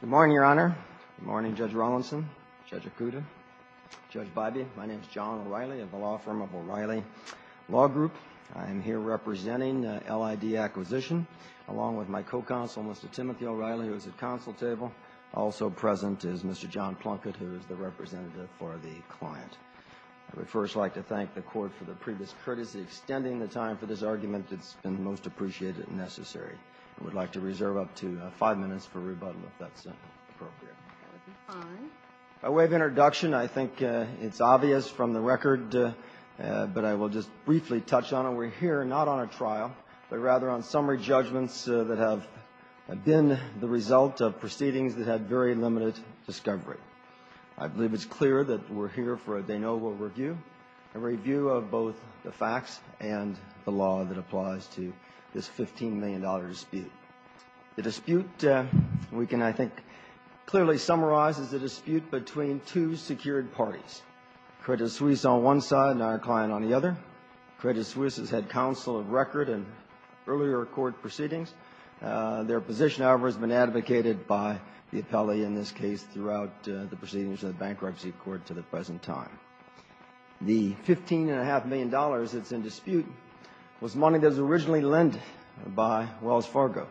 Good morning, Your Honor. Good morning, Judge Rawlinson, Judge Acuda, Judge Bybee. My name is John O'Reilly of the law firm of O'Reilly Law Group. I am here representing LID Acquisition, along with my co-counsel, Mr. Timothy O'Reilly, who is at counsel table. Also present is Mr. John Plunkett, who is the representative for the client. I would first like to thank the Court for the previous courtesy, extending the time for this argument. It's been most appreciated and necessary. I would like to reserve up to five minutes for rebuttal, if that's appropriate. By way of introduction, I think it's obvious from the record, but I will just briefly touch on it. We're here not on a trial, but rather on summary judgments that have been the result of proceedings that had very limited discovery. I believe it's clear that we're here for a de novo review, a review of both the facts and the law that applies to this $15 million dispute. The dispute, we can, I think, clearly summarize as a dispute between two secured parties, Credit Suisse on one side and our client on the other. Credit Suisse has had counsel of record in earlier court proceedings. Their position, however, has been advocated by the appellee in this case throughout the proceedings of the bankruptcy court to the present time. The $15.5 million that's in dispute was money that was originally lent by Wells Fargo.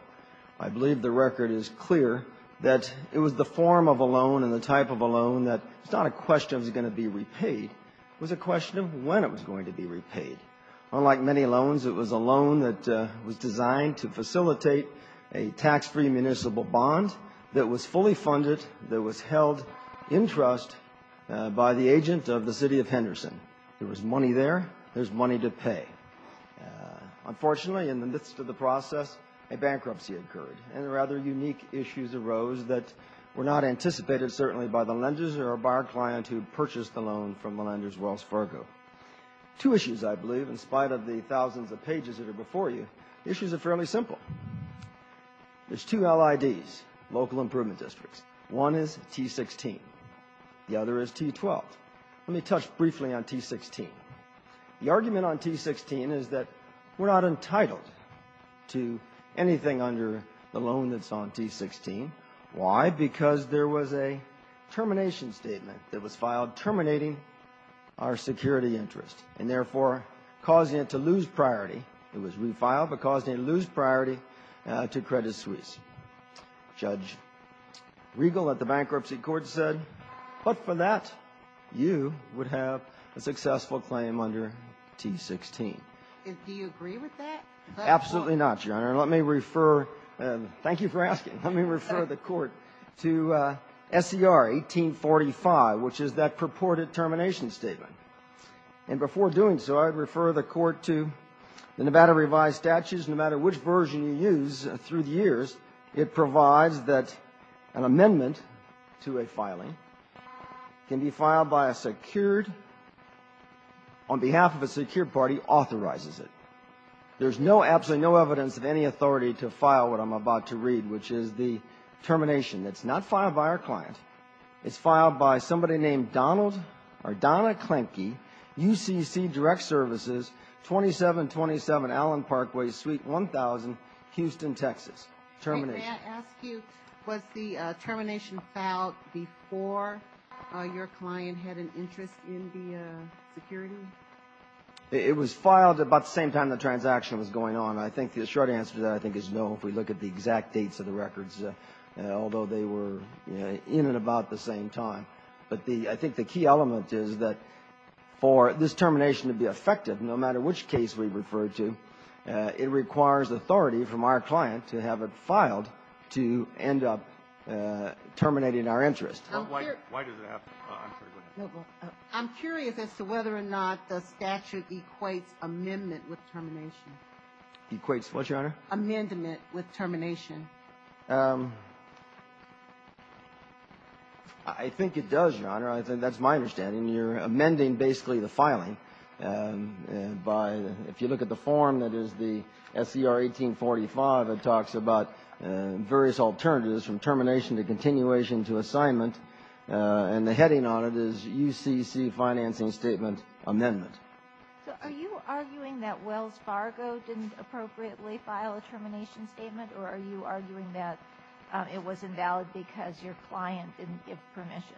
I believe the record is clear that it was the form of a loan and the type of a loan that it's not a question of is it going to be repaid, it was a question of when it was going to be repaid. Unlike many loans, it was a loan that was designed to facilitate a tax-free municipal bond that was fully funded, that was held in trust by the agent of the city of Henderson. There was money there, there's money to pay. Unfortunately, in the midst of the process, a bankruptcy occurred, and rather unique issues arose that were not anticipated, certainly, by the lenders or by our client who purchased the loan from the lenders, Wells Fargo. Two issues, I believe, in spite of the thousands of pages that are before you, the issues are fairly simple. There's two LIDs, local improvement districts. One is T-16, the other is T-12. Let me touch briefly on T-16. The argument on T-16 is that we're not entitled to anything under the loan that's on T-16. Why? Because there was a termination statement that was filed terminating our security interest and, therefore, causing it to lose priority. It was refiled, but causing it to lose priority to Credit Suisse. Judge Regal at the bankruptcy court said, but for that, you would have a successful claim under T-16. Do you agree with that? Absolutely not, Your Honor. And let me refer, and thank you for asking, let me refer the Court to SCR 1845, which is that purported termination statement. And before doing so, I would refer the Court to the Nevada revised statutes. No matter which version you use through the years, it provides that an amendment to a filing can be filed by a secured, on behalf of a secured party, authorizes it. There's no, absolutely no evidence of any authority to file what I'm about to read, which is the termination that's not filed by our client. It's filed by somebody named Donald or Donna Klenke, UCC Direct Services, 2727 Allen Parkway Suite 1000, Houston, Texas. Termination. May I ask you, was the termination filed before your client had an interest in the security? It was filed about the same time the transaction was going on. I think the short answer to that, I think, is no, if we look at the exact dates of the records, although they were in and about the same time. But the, I think the key element is that for this termination to be effective, no matter which case we have it filed, to end up terminating our interest. I'm curious as to whether or not the statute equates amendment with termination. Equates what, Your Honor? Amendment with termination. I think it does, Your Honor. I think that's my understanding. You're amending basically the filing. By, if you look at the form that is the SCR 1845, it talks about various alternatives from termination to continuation to assignment. And the heading on it is UCC Financing Statement Amendment. So are you arguing that Wells Fargo didn't appropriately file a termination statement, or are you arguing that it was invalid because your client didn't give permission?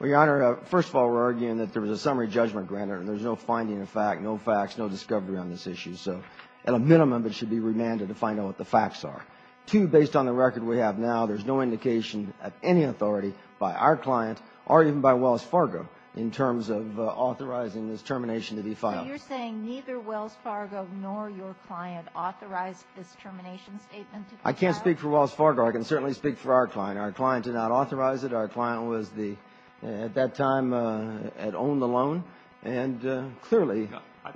Well, Your Honor, first of all, we're arguing that there was a summary judgment granted, and there's no finding of fact, no facts, no discovery on this issue. So at a minimum, it should be remanded to find out what the facts are. Two, based on the record we have now, there's no indication of any authority by our client or even by Wells Fargo in terms of authorizing this termination to be filed. But you're saying neither Wells Fargo nor your client authorized this termination statement to be filed? I can't speak for Wells Fargo. I can certainly speak for our client. Our client did not authorize it. Our client was the, at that time, had owned the loan, and clearly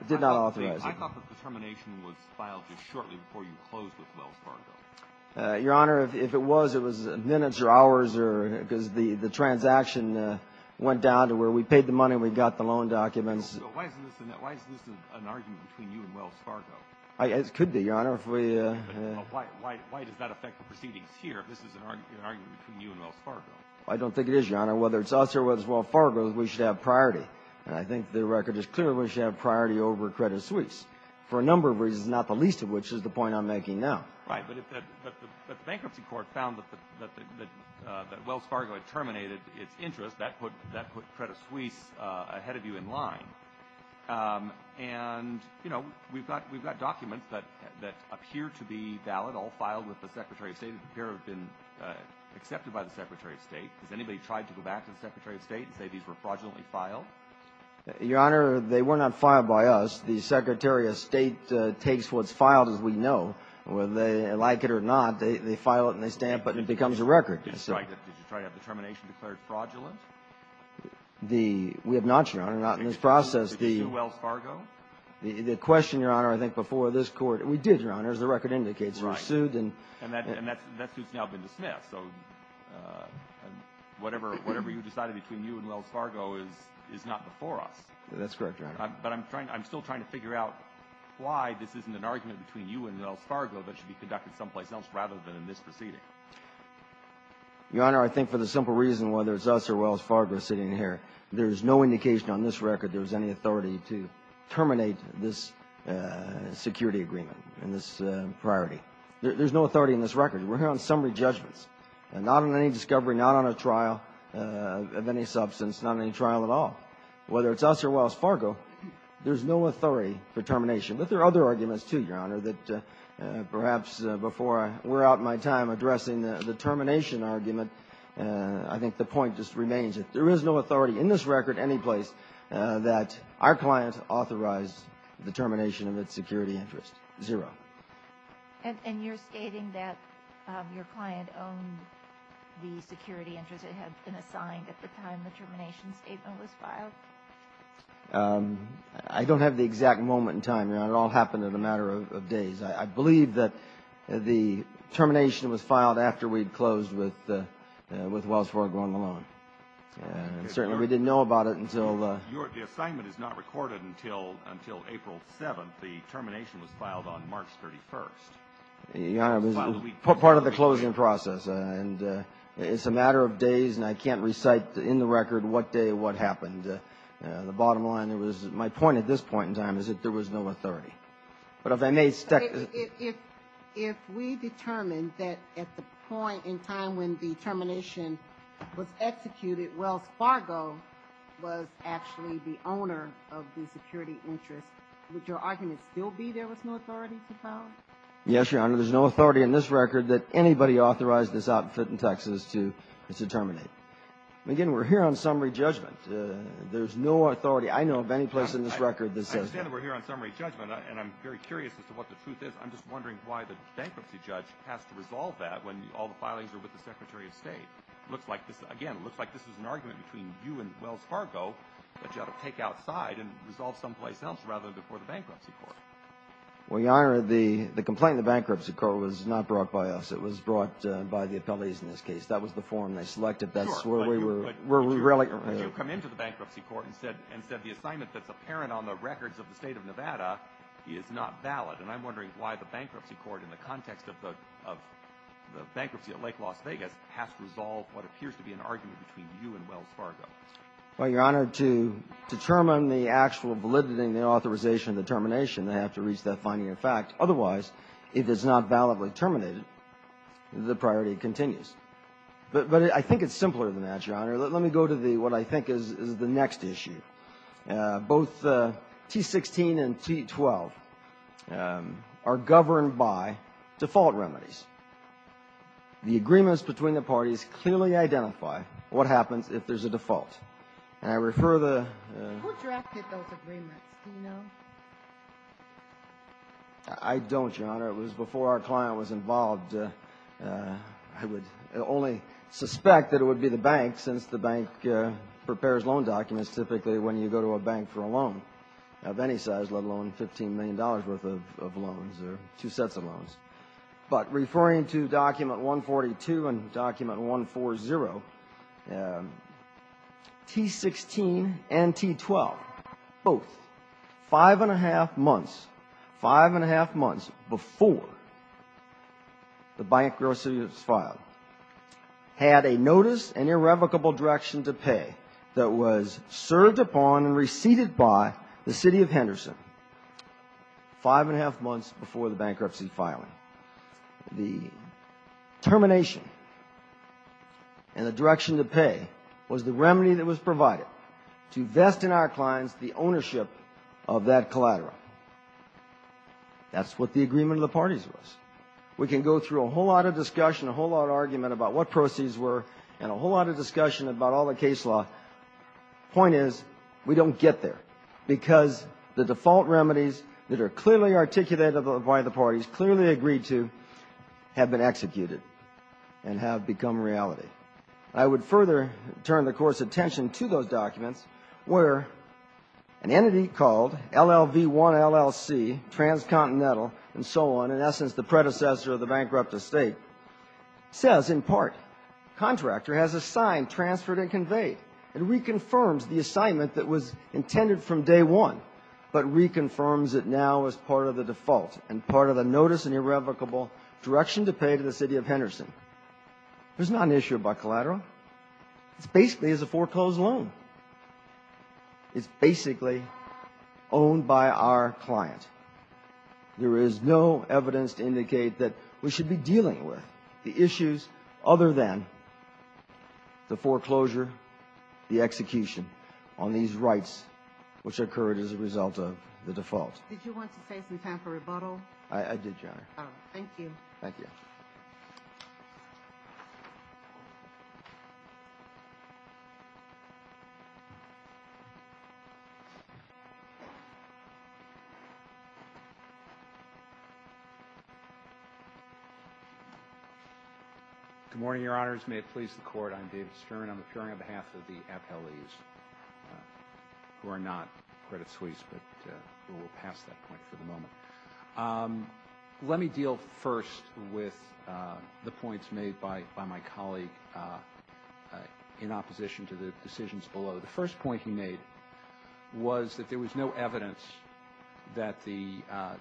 did not authorize it. I thought the termination was filed just shortly before you closed with Wells Fargo. Your Honor, if it was, it was minutes or hours, or because the transaction went down to where we paid the money and we got the loan documents. So why isn't this an argument between you and Wells Fargo? It could be, Your Honor. Why does that affect the proceedings here, if this is an argument between you and Wells Fargo? I don't think it is, Your Honor. Whether it's us or whether it's Wells Fargo, we should have priority. And I think the record is clear we should have priority over Credit Suisse, for a number of reasons, not the least of which is the point I'm making now. Right. But if the bankruptcy court found that Wells Fargo had terminated its interest, that put Credit Suisse ahead of you in line. And, you know, we've got documents that appear to be valid, all filed with the Secretary of State, that appear to have been accepted by the Secretary of State. Has anybody tried to go back to the Secretary of State and say these were fraudulently filed? Your Honor, they were not filed by us. The Secretary of State takes what's filed as we know. Whether they like it or not, they file it and they stamp it and it becomes a record. Did you try to have the termination declared fraudulent? We have not, Your Honor, not in this process. The question, Your Honor, I think before this Court, we did, Your Honor, as the record indicates. Right. We sued and that's who's now been dismissed. So whatever you decided between you and Wells Fargo is not before us. That's correct, Your Honor. But I'm still trying to figure out why this isn't an argument between you and Wells Fargo that should be conducted someplace else rather than in this proceeding. Your Honor, I think for the simple reason whether it's us or Wells Fargo sitting here, there's no indication on this record there's any authority to terminate this security agreement and this priority. There's no authority in this record. We're here on summary judgments and not on any discovery, not on a trial of any substance, not on any trial at all. Whether it's us or Wells Fargo, there's no authority for termination. But there are other arguments, too, Your Honor, that perhaps before we're out of my time addressing the termination argument, I think the point just remains that there is no authority in this record anyplace that our client authorized the termination of its security interest. Zero. And you're stating that your client owned the security interest that had been assigned at the time the termination statement was filed? I don't have the exact moment in time, Your Honor. It all happened in a matter of days. I believe that the termination was filed after we'd closed with Wells Fargo on the loan. And certainly we didn't know about it until the — The assignment is not recorded until April 7th. The termination was filed on March 31st. Your Honor, it was part of the closing process. And it's a matter of days, and I can't recite in the record what day what happened. The bottom line, my point at this point in time is that there was no authority. But if I may — If we determined that at the point in time when the termination was executed, Wells Fargo was actually the owner of the security interest, would your argument still be there was no authority to file? Yes, Your Honor. There's no authority in this record that anybody authorized this outfit in Texas to terminate. Again, we're here on summary judgment. There's no authority I know of anyplace in this record that says — I understand that we're here on summary judgment, and I'm very curious as to what the truth is. I'm just wondering why the bankruptcy judge has to resolve that when all the filings are with the secretary of state. It looks like this — again, it looks like this is an argument between you and Wells Fargo that you ought to take outside and resolve someplace else rather than before the bankruptcy court. Well, Your Honor, the complaint in the bankruptcy court was not brought by us. It was brought by the appellees in this case. That's where we were — But you come into the bankruptcy court and said the assignment that's apparent on the records of the State of Nevada is not valid. And I'm wondering why the bankruptcy court in the context of the bankruptcy at Lake Las Vegas has to resolve what appears to be an argument between you and Wells Fargo. Well, Your Honor, to determine the actual validity and the authorization of the termination, they have to reach that final fact. Otherwise, if it's not validly terminated, the priority continues. But I think it's simpler than that, Your Honor. Let me go to what I think is the next issue. Both T-16 and T-12 are governed by default remedies. The agreements between the parties clearly identify what happens if there's a default. And I refer the — Who drafted those agreements? Do you know? I don't, Your Honor. It was before our client was involved. I would only suspect that it would be the bank, since the bank prepares loan documents typically when you go to a bank for a loan of any size, let alone $15 million worth of loans or two sets of loans. But referring to Document 142 and Document 140, T-16 and T-12 both, five and a half months, five and a half months before the bankruptcy was filed, had a notice and irrevocable direction to pay that was served upon and received by the city of Henderson five and a half months before the bankruptcy filing. The termination and the direction to pay was the remedy that was provided to vest in our clients the ownership of that collateral. That's what the agreement of the parties was. We can go through a whole lot of discussion, a whole lot of argument about what proceeds were, and a whole lot of discussion about all the case law. Point is, we don't get there, because the default remedies that are clearly articulated by the parties, clearly agreed to, have been executed and have become reality. I would further turn the Court's attention to those documents where an entity called LLV-1 LLC, Transcontinental and so on, in essence the predecessor of the bankrupt estate, says in part, There's not an issue about collateral. It basically is a foreclosed loan. It's basically owned by our client. There is no evidence to indicate that we should be dealing with the issues other than the foreclosure, the execution on these rights, which occurred as a result of the default. Did you want to say some time for rebuttal? I did, Your Honor. Thank you. Thank you. Good morning, Your Honors. May it please the Court. I'm David Stern. I'm appearing on behalf of the appellees, who are not credit suites, but we'll pass that point for the moment. Let me deal first with the points made by my colleague in opposition to the decisions below. The first point he made was that there was no evidence that the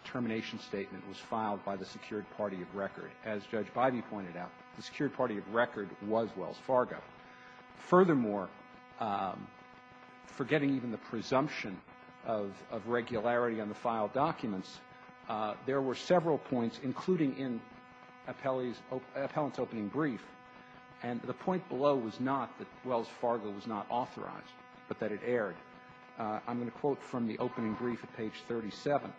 termination statement was filed by the secured party of record. As Judge Bivey pointed out, the secured party of record was Wells Fargo. Furthermore, forgetting even the presumption of regularity on the filed documents, there were several points, including in appellant's opening brief, and the point below was not that Wells Fargo was not authorized, but that it erred. I'm going to quote from the opening brief at page 37.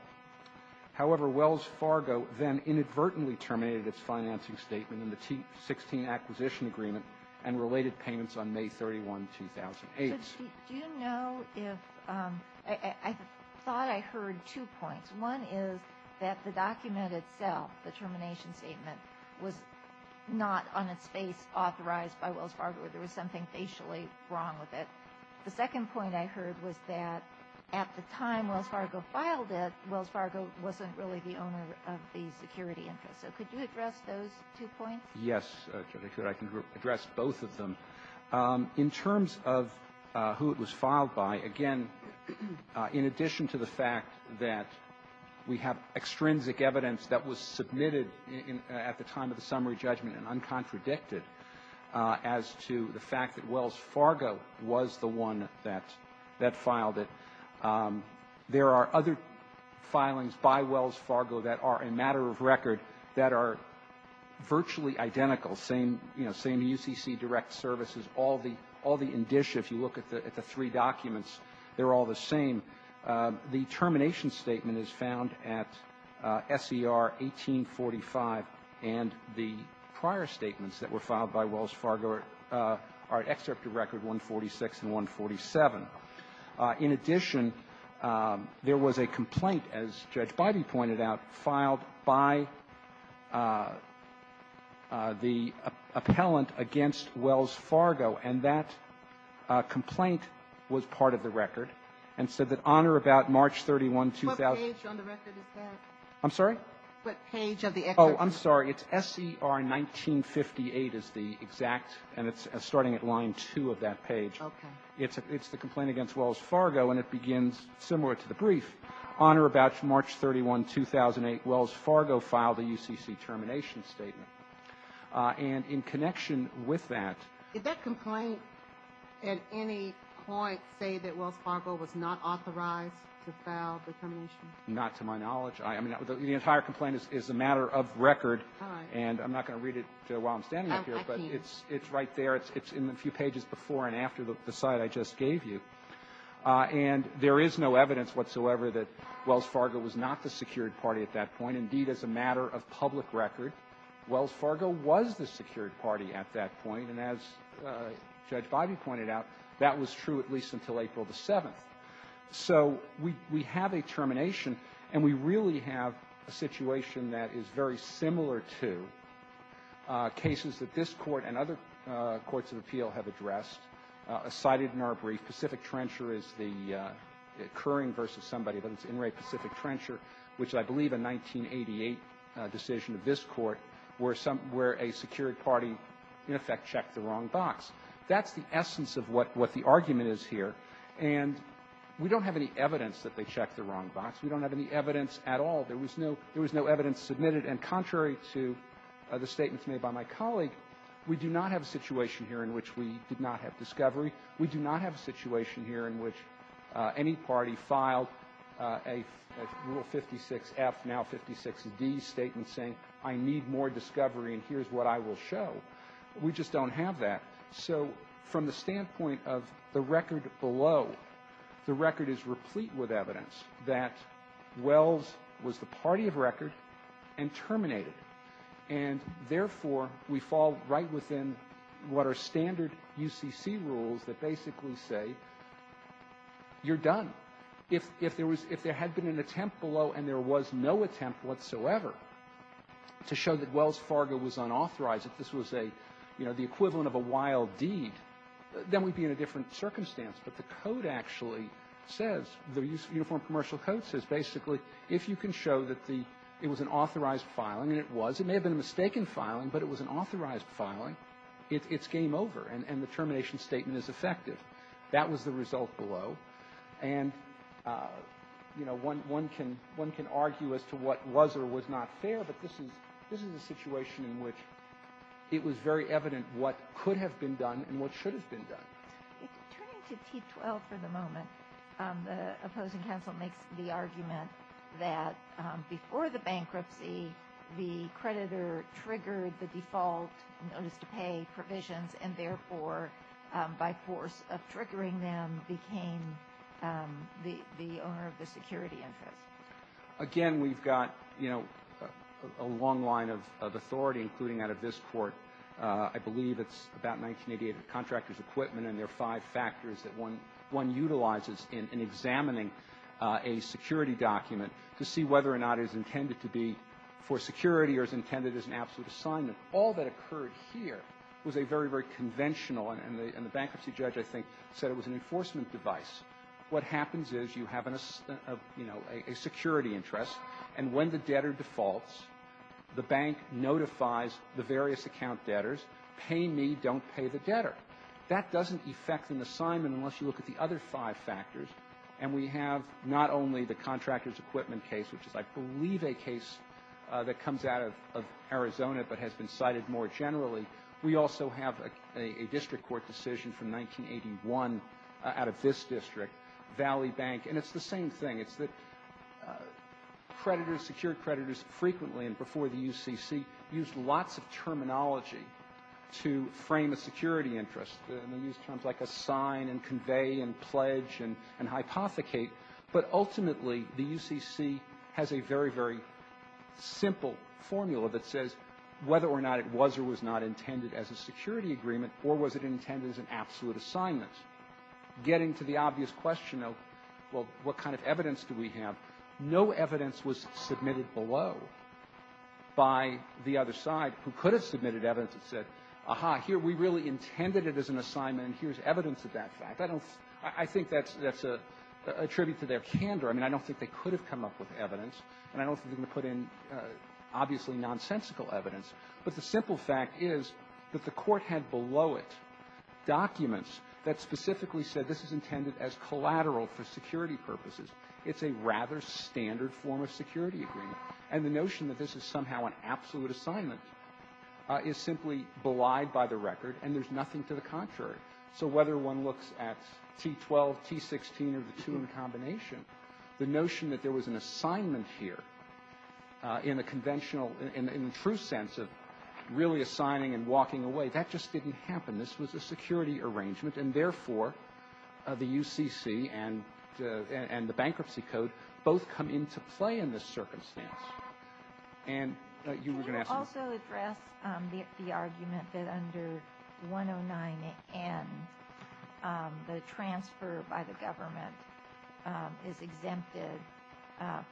However, Wells Fargo then inadvertently terminated its financing statement in the T16 acquisition agreement and related payments on May 31, 2008. Judge, do you know if – I thought I heard two points. One is that the document itself, the termination statement, was not on its face authorized by Wells Fargo, or there was something facially wrong with it. The second point I heard was that at the time Wells Fargo filed it, Wells Fargo wasn't really the owner of the security interest. So could you address those two points? Yes, Judge, I can address both of them. In terms of who it was filed by, again, in addition to the fact that we have extrinsic evidence that was submitted at the time of the summary judgment and uncontradicted as to the fact that Wells Fargo was the one that filed it, there are other filings by Wells Fargo that are a matter of record that are virtually identical. Same, you know, same UCC direct services. All the indicia, if you look at the three documents, they're all the same. The termination statement is found at SER 1845. And the prior statements that were filed by Wells Fargo are at Excerpt of Record 146 and 147. In addition, there was a complaint, as Judge Bidey pointed out, filed by the appellant against Wells Fargo, and that complaint was part of the record and said that on or about March 31, 2000 ---- What page on the record is that? I'm sorry? What page of the excerpt? Oh, I'm sorry. It's SER 1958 is the exact, and it's starting at line 2 of that page. Okay. It's the complaint against Wells Fargo, and it begins similar to the brief. On or about March 31, 2008, Wells Fargo filed a UCC termination statement. And in connection with that ---- Did that complaint at any point say that Wells Fargo was not authorized to file the termination? Not to my knowledge. I mean, the entire complaint is a matter of record. And I'm not going to read it while I'm standing up here. I can't. But it's right there. It's in the few pages before and after the site I just gave you. And there is no evidence whatsoever that Wells Fargo was not the secured party at that point. Indeed, as a matter of public record, Wells Fargo was the secured party at that point. And as Judge Biby pointed out, that was true at least until April the 7th. So we have a termination, and we really have a situation that is very similar to cases that this Court and other courts of appeal have addressed, cited in our brief. Pacific Trencher is the occurring versus somebody, but it's In re Pacific Trencher, which I believe a 1988 decision of this Court where a secured party in effect checked the wrong box. That's the essence of what the argument is here. And we don't have any evidence that they checked the wrong box. We don't have any evidence at all. There was no evidence submitted. And contrary to the statements made by my colleague, we do not have a situation here in which we did not have discovery. We do not have a situation here in which any party filed a Rule 56F, now 56D statement saying, I need more discovery, and here's what I will show. We just don't have that. So from the standpoint of the record below, the record is replete with evidence that Wells was the party of record and terminated. And, therefore, we fall right within what are standard UCC rules that basically say, you're done. If there had been an attempt below and there was no attempt whatsoever to show that Wells Fargo was unauthorized, that this was a, you know, the equivalent of a wild deed, then we'd be in a different circumstance. But the Code actually says, the Uniform Commercial Code says, basically, if you can show that the, it was an authorized filing, and it was, it may have been a mistaken filing, but it was an authorized filing, it's game over and the termination statement is effective. That was the result below. And, you know, one can argue as to what was or was not fair, but this is a situation in which it was very evident what could have been done and what should have been done. Turning to T-12 for the moment, the opposing counsel makes the argument that before the bankruptcy, the creditor triggered the default notice to pay provisions and, therefore, by force of triggering them, became the owner of the security interest. Again, we've got, you know, a long line of authority, including out of this court. I believe it's about 1988 of the contractor's equipment, and there are five factors that one utilizes in examining a security document to see whether or not it is intended to be for security or is intended as an absolute assignment. All that occurred here was a very, very conventional, and the bankruptcy judge, I think, said it was an enforcement device. What happens is you have, you know, a security interest, and when the debtor defaults, the bank notifies the various account debtors, pay me, don't pay the debtor. That doesn't effect an assignment unless you look at the other five factors, and we have not only the contractor's equipment case, which is, I believe, a case that comes out of Arizona but has been cited more generally, we also have a district court decision from 1981 out of this district, Valley Bank, and it's the same thing. It's that creditors, secured creditors frequently and before the UCC used lots of terminology to frame a security interest. They used terms like assign and convey and pledge and hypothecate, but ultimately the UCC has a very, very simple formula that says whether or not it was or was not intended as a security agreement or was it intended as an absolute assignment. Getting to the obvious question of, well, what kind of evidence do we have, no evidence was submitted below by the other side who could have submitted evidence that said, aha, here, we really intended it as an assignment, and here's evidence of that fact. I don't think that's a tribute to their candor. I mean, I don't think they could have come up with evidence, and I don't think they put in, obviously, nonsensical evidence. But the simple fact is that the Court had below it documents that specifically said this is intended as collateral for security purposes. It's a rather standard form of security agreement. And the notion that this is somehow an absolute assignment is simply belied by the record, and there's nothing to the contrary. So whether one looks at T12, T16, or the two in combination, the notion that there was an assignment here in a conventional, in the true sense of really assigning and walking away, that just didn't happen. This was a security arrangement, and therefore, the UCC and the Bankruptcy Code both come into play in this circumstance. And you were going to ask? You also address the argument that under 109N, the transfer by the government is exempted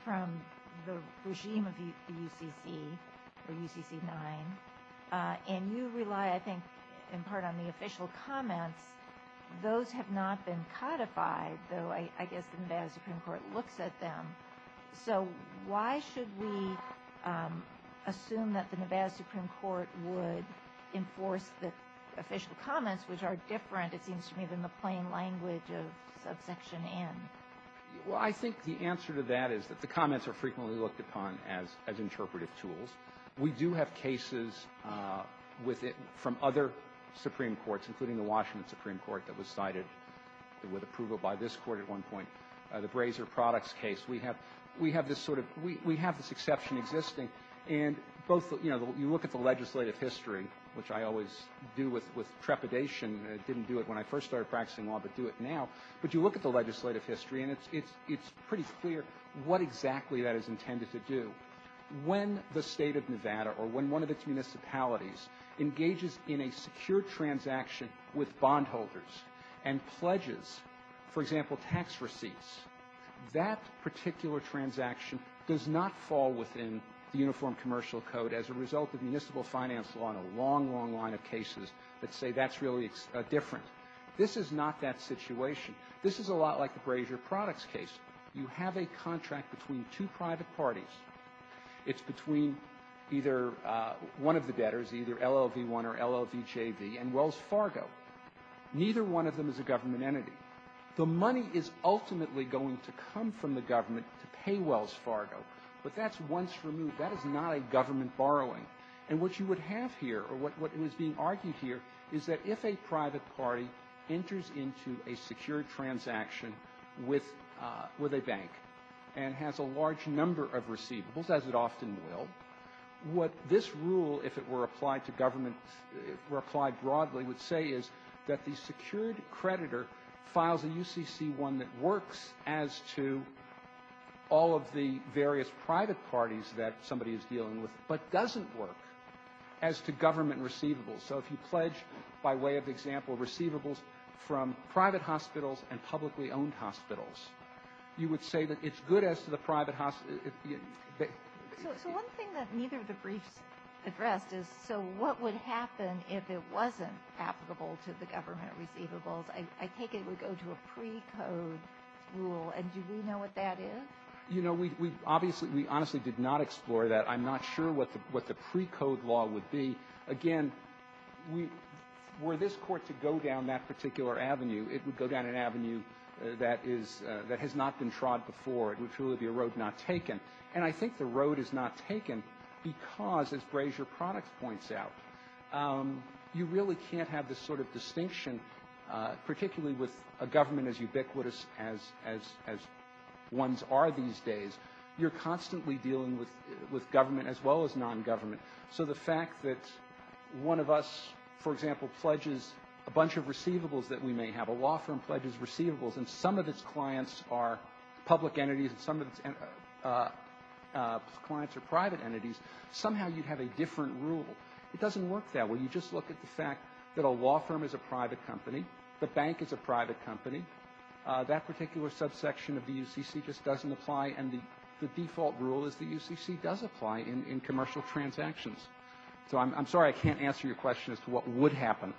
from the regime of the UCC or UCC-9, and you rely, I think, in part on the official comments. Those have not been codified, though I guess the Nevada Supreme Court looks at them. So why should we assume that the Nevada Supreme Court would enforce the official comments, which are different, it seems to me, than the plain language of Subsection N? Well, I think the answer to that is that the comments are frequently looked upon as interpretive tools. We do have cases with it from other Supreme Courts, including the Washington Supreme Court that was cited with approval by this Court at one point. The Brazier Products case. We have this exception existing. And you look at the legislative history, which I always do with trepidation. I didn't do it when I first started practicing law, but do it now. But you look at the legislative history, and it's pretty clear what exactly that is intended to do. When the State of Nevada or when one of its municipalities engages in a secure transaction with bondholders and pledges, for example, tax receipts, that particular transaction does not fall within the Uniform Commercial Code as a result of municipal finance law and a long, long line of cases that say that's really different. This is not that situation. This is a lot like the Brazier Products case. You have a contract between two private parties. It's between either one of the debtors, either LLV-1 or LLVJV, and Wells Fargo. Neither one of them is a government entity. The money is ultimately going to come from the government to pay Wells Fargo, but that's once removed. That is not a government borrowing. And what you would have here, or what was being argued here, is that if a private party enters into a secure transaction with a bank and has a large number of receivables, as it often will, what this rule, if it were applied to government, were applied broadly, would say is that the secured creditor files a UCC-1 that works as to all of the various private parties that somebody is dealing with, but doesn't work as to government receivables. So if you pledge, by way of example, receivables from private hospitals and publicly owned hospitals, you would say that it's good as to the private hospitals. So one thing that neither of the briefs addressed is, so what would happen if it wasn't applicable to the government receivables? I take it it would go to a precode rule, and do we know what that is? You know, we obviously, we honestly did not explore that. I'm not sure what the precode law would be. Again, we, were this Court to go down that particular avenue, it would go down an avenue that is, that has not been trod before. It would truly be a road not taken. And I think the road is not taken because, as Brazier Products points out, you really can't have this sort of distinction, particularly with a government as ubiquitous as ones are these days. You're constantly dealing with government as well as nongovernment. So the fact that one of us, for example, pledges a bunch of receivables that we may have. A law firm pledges receivables, and some of its clients are public entities, and some of its clients are private entities. Somehow you'd have a different rule. It doesn't work that way. You just look at the fact that a law firm is a private company. The bank is a private company. That particular subsection of the UCC just doesn't apply. And the default rule is the UCC does apply in commercial transactions. So I'm sorry I can't answer your question as to what would happen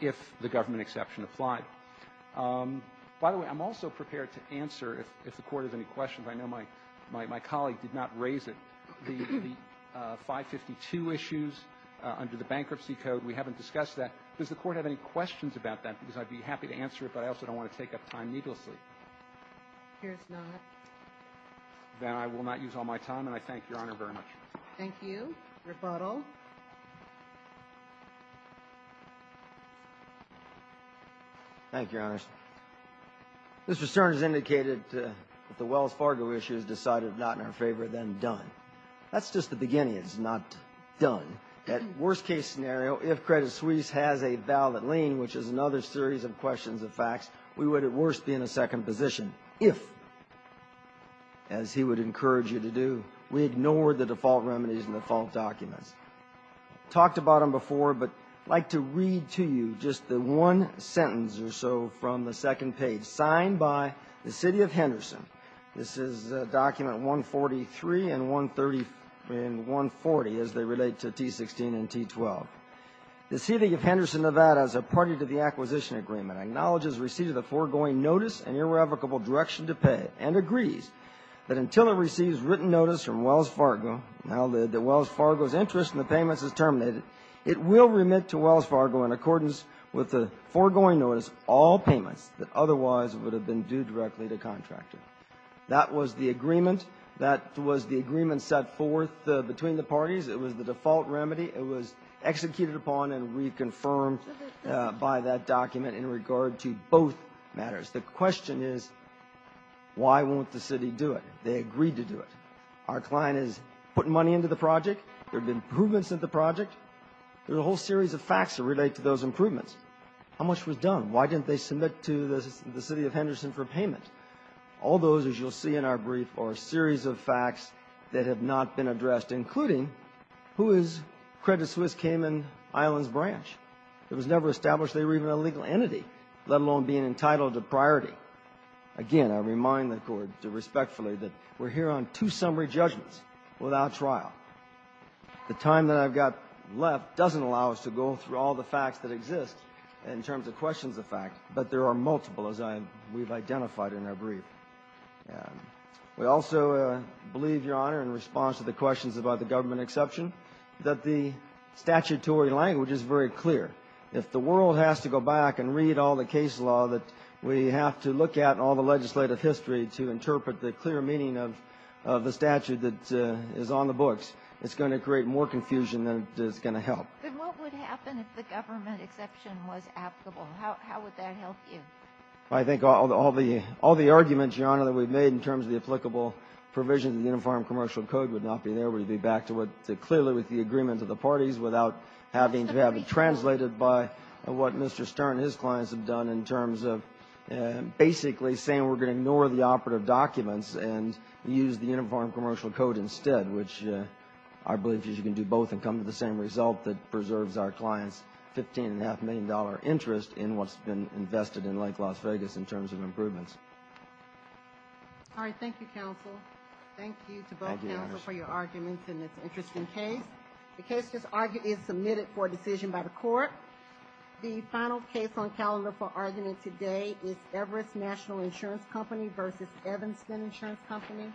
if the government exception applied. By the way, I'm also prepared to answer if the Court has any questions. I know my colleague did not raise it. The 552 issues under the Bankruptcy Code, we haven't discussed that. Does the Court have any questions about that? Because I'd be happy to answer it, but I also don't want to take up time needlessly. Here's not. Then I will not use all my time, and I thank Your Honor very much. Thank you. Rebuttal. Thank you, Your Honors. Mr. Stern has indicated that the Wells Fargo issues decided not in our favor, then done. That's just the beginning. It's not done. At worst-case scenario, if Credit Suisse has a valid lien, which is another series of questions of facts, we would at worst be in a second position. If, as he would encourage you to do, we ignore the default remedies and default documents. Talked about them before, but I'd like to read to you just the one sentence or so from the second page. Signed by the City of Henderson. This is document 143 and 140, as they relate to T-16 and T-12. The City of Henderson, Nevada, as a party to the acquisition agreement, acknowledges receipt of the foregoing notice and irrevocable direction to pay, and agrees that until it receives written notice from Wells Fargo, now that Wells Fargo's interest in the payments is terminated, it will remit to Wells Fargo in accordance with the foregoing notice all payments that otherwise would have been due directly to contractor. That was the agreement. That was the agreement set forth between the parties. It was the default remedy. It was executed upon and reconfirmed by that document in regard to both matters. The question is, why won't the city do it? They agreed to do it. Our client is putting money into the project. There have been improvements in the project. There's a whole series of facts that relate to those improvements. How much was done? Why didn't they submit to the City of Henderson for payment? All those, as you'll see in our brief, are a series of facts that have not been addressed, including who is Credit Suisse Cayman Islands Branch. It was never established they were even a legal entity, let alone being entitled to priority. Again, I remind the Court respectfully that we're here on two summary judgments without trial. The time that I've got left doesn't allow us to go through all the facts that exist in terms of questions of fact, but there are multiple, as we've identified in our brief. We also believe, Your Honor, in response to the questions about the government exception, that the statutory language is very clear. If the world has to go back and read all the case law that we have to look at in all the legislative history to interpret the clear meaning of the statute that is on the books, it's going to create more confusion than is going to help. But what would happen if the government exception was applicable? How would that help you? I think all the arguments, Your Honor, that we've made in terms of the applicable provisions of the Uniform Commercial Code would not be there. We'd be back to clearly with the agreement of the parties without having to have it translated by what Mr. Stern and his clients have done in terms of basically saying we're going to ignore the operative documents and use the Uniform Commercial Code instead, which I believe you can do both and come to the same result that preserves our clients' $15.5 million interest in what's been invested in Lake Las Vegas in terms of improvements. All right. Thank you, counsel. Thank you to both counsel for your arguments in this interesting case. The case is submitted for decision by the court. The final case on calendar for argument today is Everest National Insurance Company v. Evanston Insurance Company.